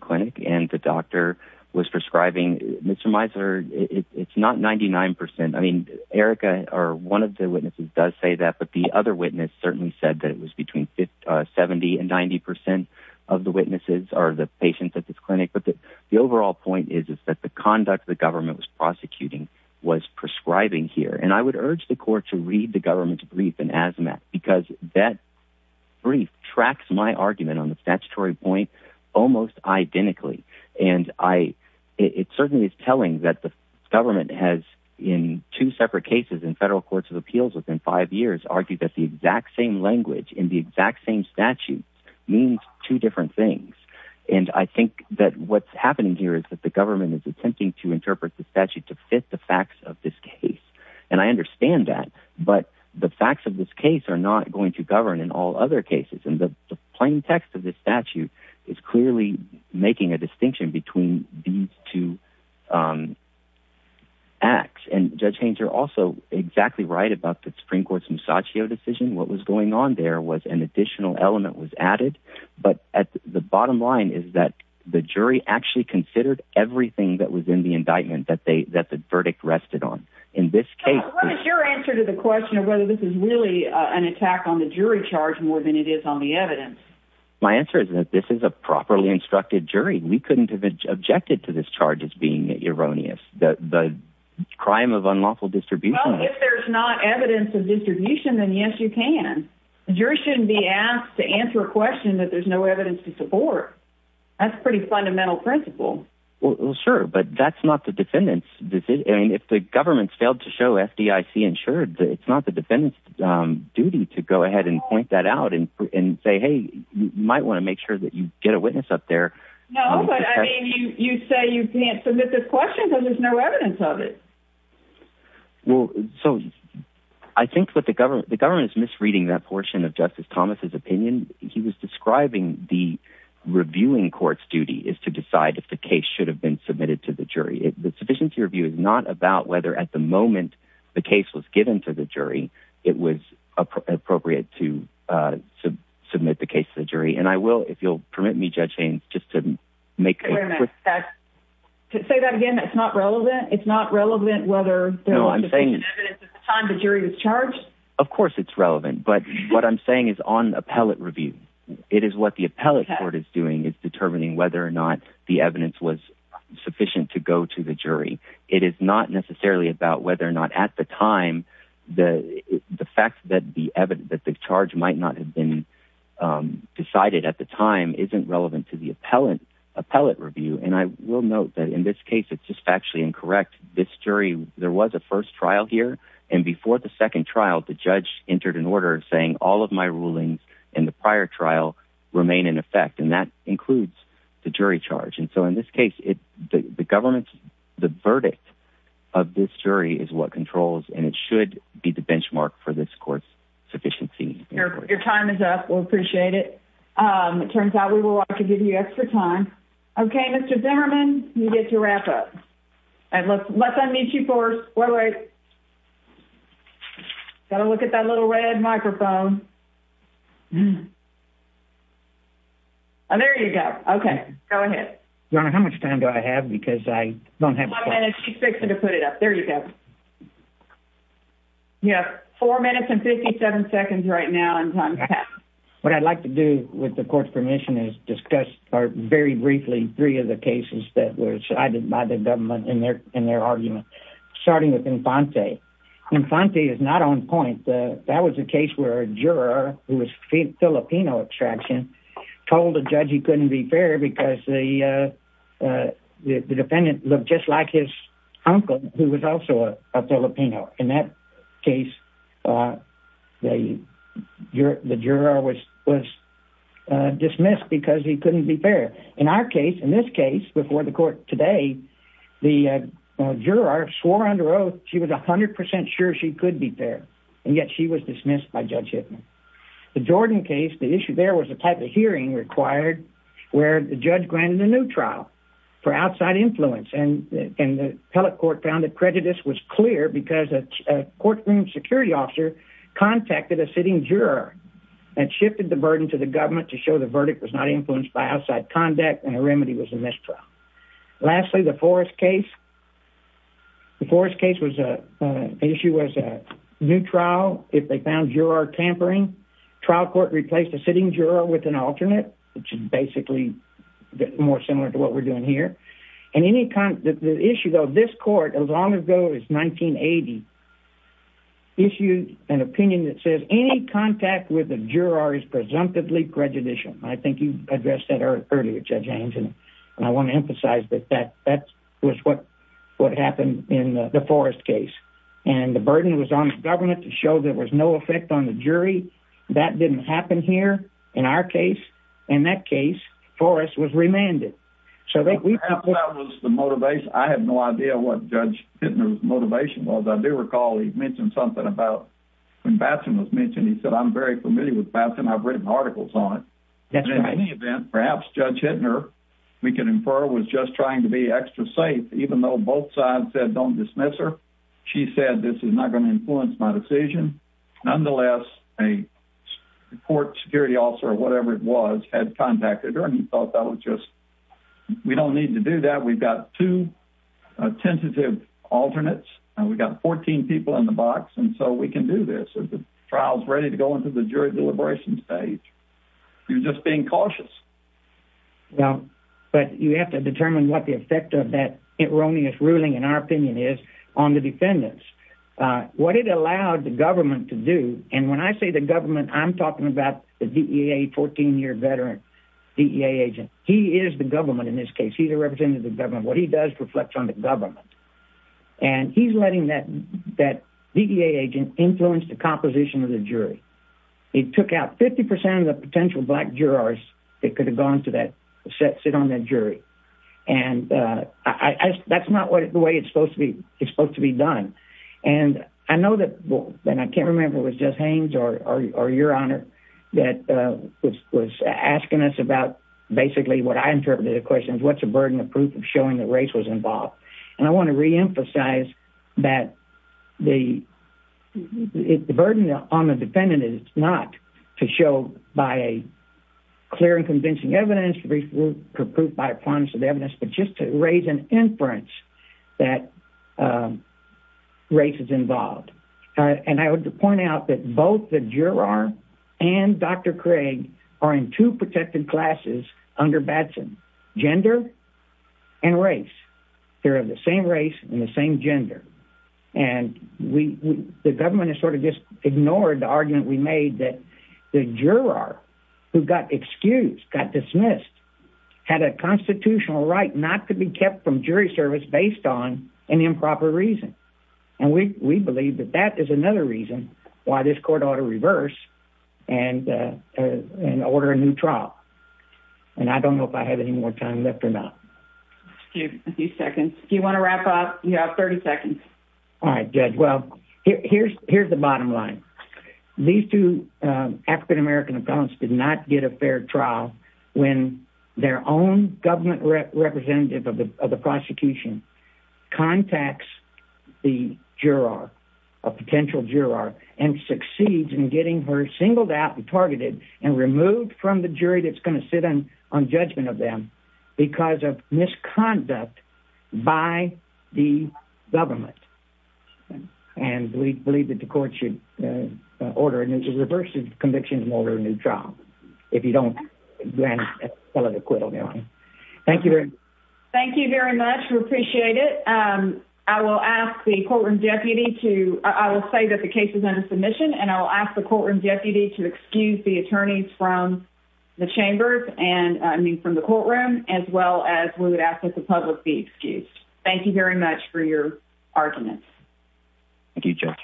i mean erica or one of the witnesses does say that but the other witness certainly said that it was between 50 uh 70 and 90 percent of the witnesses are the patients at this clinic but the the overall point is is that the conduct the government was prosecuting was prescribing here and i would urge the court to read the government's brief in asthma because that brief tracks my argument on the statutory point almost identically and i it certainly is telling that the government has in two separate cases in federal courts of appeals within five years argued that the exact same language in the exact same statute means two different things and i think that what's happening here is that the government is attempting to interpret the statute to fit the facts of this case and i understand that but the facts of this case are not going to govern in all other cases and the plain text of this statute is clearly making a distinction between these two um acts and judge haynes are also exactly right about the supreme court's misachio decision what was going on there was an additional element was added but at the bottom line is that the jury actually considered everything that was in the indictment that they that the verdict rested on in this case what is your answer to the question of whether this is really an attack on the jury charge more than it is on the evidence my answer is that this is a properly instructed jury we objected to this charge as being erroneous the the crime of unlawful distribution if there's not evidence of distribution then yes you can the jury shouldn't be asked to answer a question that there's no evidence to support that's a pretty fundamental principle well sure but that's not the defendant's decision i mean if the government's failed to show fdic insured it's not the defendant's um duty to go ahead and point that out and and say hey you might want to make that you get a witness up there no but i mean you you say you can't submit this question because there's no evidence of it well so i think that the government the government is misreading that portion of justice thomas's opinion he was describing the reviewing court's duty is to decide if the case should have been submitted to the jury the sufficiency review is not about whether at the moment the case was given to the jury it was appropriate to uh submit the case to the jury and i will if you'll permit me judge james just to make a quick fact to say that again it's not relevant it's not relevant whether no i'm saying evidence at the time the jury was charged of course it's relevant but what i'm saying is on appellate review it is what the appellate court is doing is determining whether or not the evidence was sufficient to go to the jury it is not necessarily about whether or not at the time the the fact that the evidence that the charge might not have been decided at the time isn't relevant to the appellate appellate review and i will note that in this case it's just factually incorrect this jury there was a first trial here and before the second trial the judge entered an order saying all of my rulings in the prior trial remain in effect and that includes the jury charge and so in this case it the government's the verdict of this jury is what controls and it should be the benchmark for this court's your time is up we'll appreciate it um it turns out we will like to give you extra time okay mr zimmerman you get to wrap up and let's let that meet you first wait wait gotta look at that little red microphone oh there you go okay go ahead your honor how much time do i have because i don't have five minutes to fix it to put it up there you go you have four minutes and 57 seconds right now in time what i'd like to do with the court's permission is discuss or very briefly three of the cases that were decided by the government in their in their argument starting with infante infante is not on point that was a case where a juror who was filipino extraction told the judge he couldn't be fair because the uh uh the defendant looked just like his uncle who was also a filipino in that case uh they your the juror was was uh dismissed because he couldn't be fair in our case in this case before the court today the uh juror swore under oath she was 100 sure she could be fair and yet she was dismissed by judge hitman the jordan case the issue there was a type of hearing required where the judge granted a new trial for outside influence and and the appellate court found that prejudice was clear because a courtroom security officer contacted a sitting juror and shifted the burden to the government to show the verdict was not influenced by outside conduct and the remedy was a mistrial lastly the forest case the forest case was a issue was a new trial if they found juror tampering trial court replaced a sitting juror with an alternate which is basically more similar to what we're doing here and any kind of the issue though this court as long ago as 1980 issued an opinion that says any contact with the juror is presumptively prejudicial i think you addressed that earlier judge haynes and i want to emphasize that that that was what what happened in the forest case and the burden was on the government to show there was no effect on the jury that didn't happen here in our case in that case forest was remanded so that we have that was the motivation i had no idea what judge hitman's motivation was i do recall he mentioned something about when batson was mentioned he said i'm very familiar with batson i've written articles on it that's in any event perhaps judge hitner we can infer was just trying to be extra safe even though both sides said don't dismiss her she said this is not going to influence my decision nonetheless a court security officer or whatever it was had contacted her and he thought that was just we don't need to do that we've got two tentative alternates and we've got 14 people in the box and so we can do this if the trial is ready to go into the jury deliberation stage you're just being cautious well but you have to determine what the effect of that erroneous ruling in our opinion is on the defendants uh what it allowed the government to do and when i say the government i'm talking about the dea 14-year veteran dea agent he is the government in this case he's a representative of government what he does reflects on the government and he's letting that that dea agent influence the composition of the jury it took out 50 of the potential black jurors that could have gone to that set sit on that jury and uh i i that's not what the way it's supposed to be it's supposed to be done and i know that and i can't remember it was just haynes or or your honor that uh was was asking us about basically what i interpreted the question is what's the burden of proof of showing that race was involved and i want to re-emphasize that the the burden on the defendant is not to show by a convincing evidence proof by promise of evidence but just to raise an inference that race is involved and i would point out that both the juror and dr craig are in two protected classes under batson gender and race they're of the same race and the same gender and we the dismissed had a constitutional right not to be kept from jury service based on an improper reason and we we believe that that is another reason why this court ought to reverse and uh and order a new trial and i don't know if i have any more time left or not a few seconds do you want to wrap up you have 30 seconds all right judge well here's here's bottom line these two uh african-american appellants did not get a fair trial when their own government representative of the prosecution contacts the juror a potential juror and succeeds in getting her singled out and targeted and removed from the jury that's going to sit on judgment of them because of misconduct by the government and we believe that the court should order and reverse the conviction and order a new trial if you don't grant a lot of acquittal thank you very much thank you very much we appreciate it um i will ask the courtroom deputy to i will say that the case is under submission and i will ask the courtroom deputy to excuse the attorneys from the chambers and i mean from the courtroom as well as we would ask that the public be excused thank you very much for your arguments thank you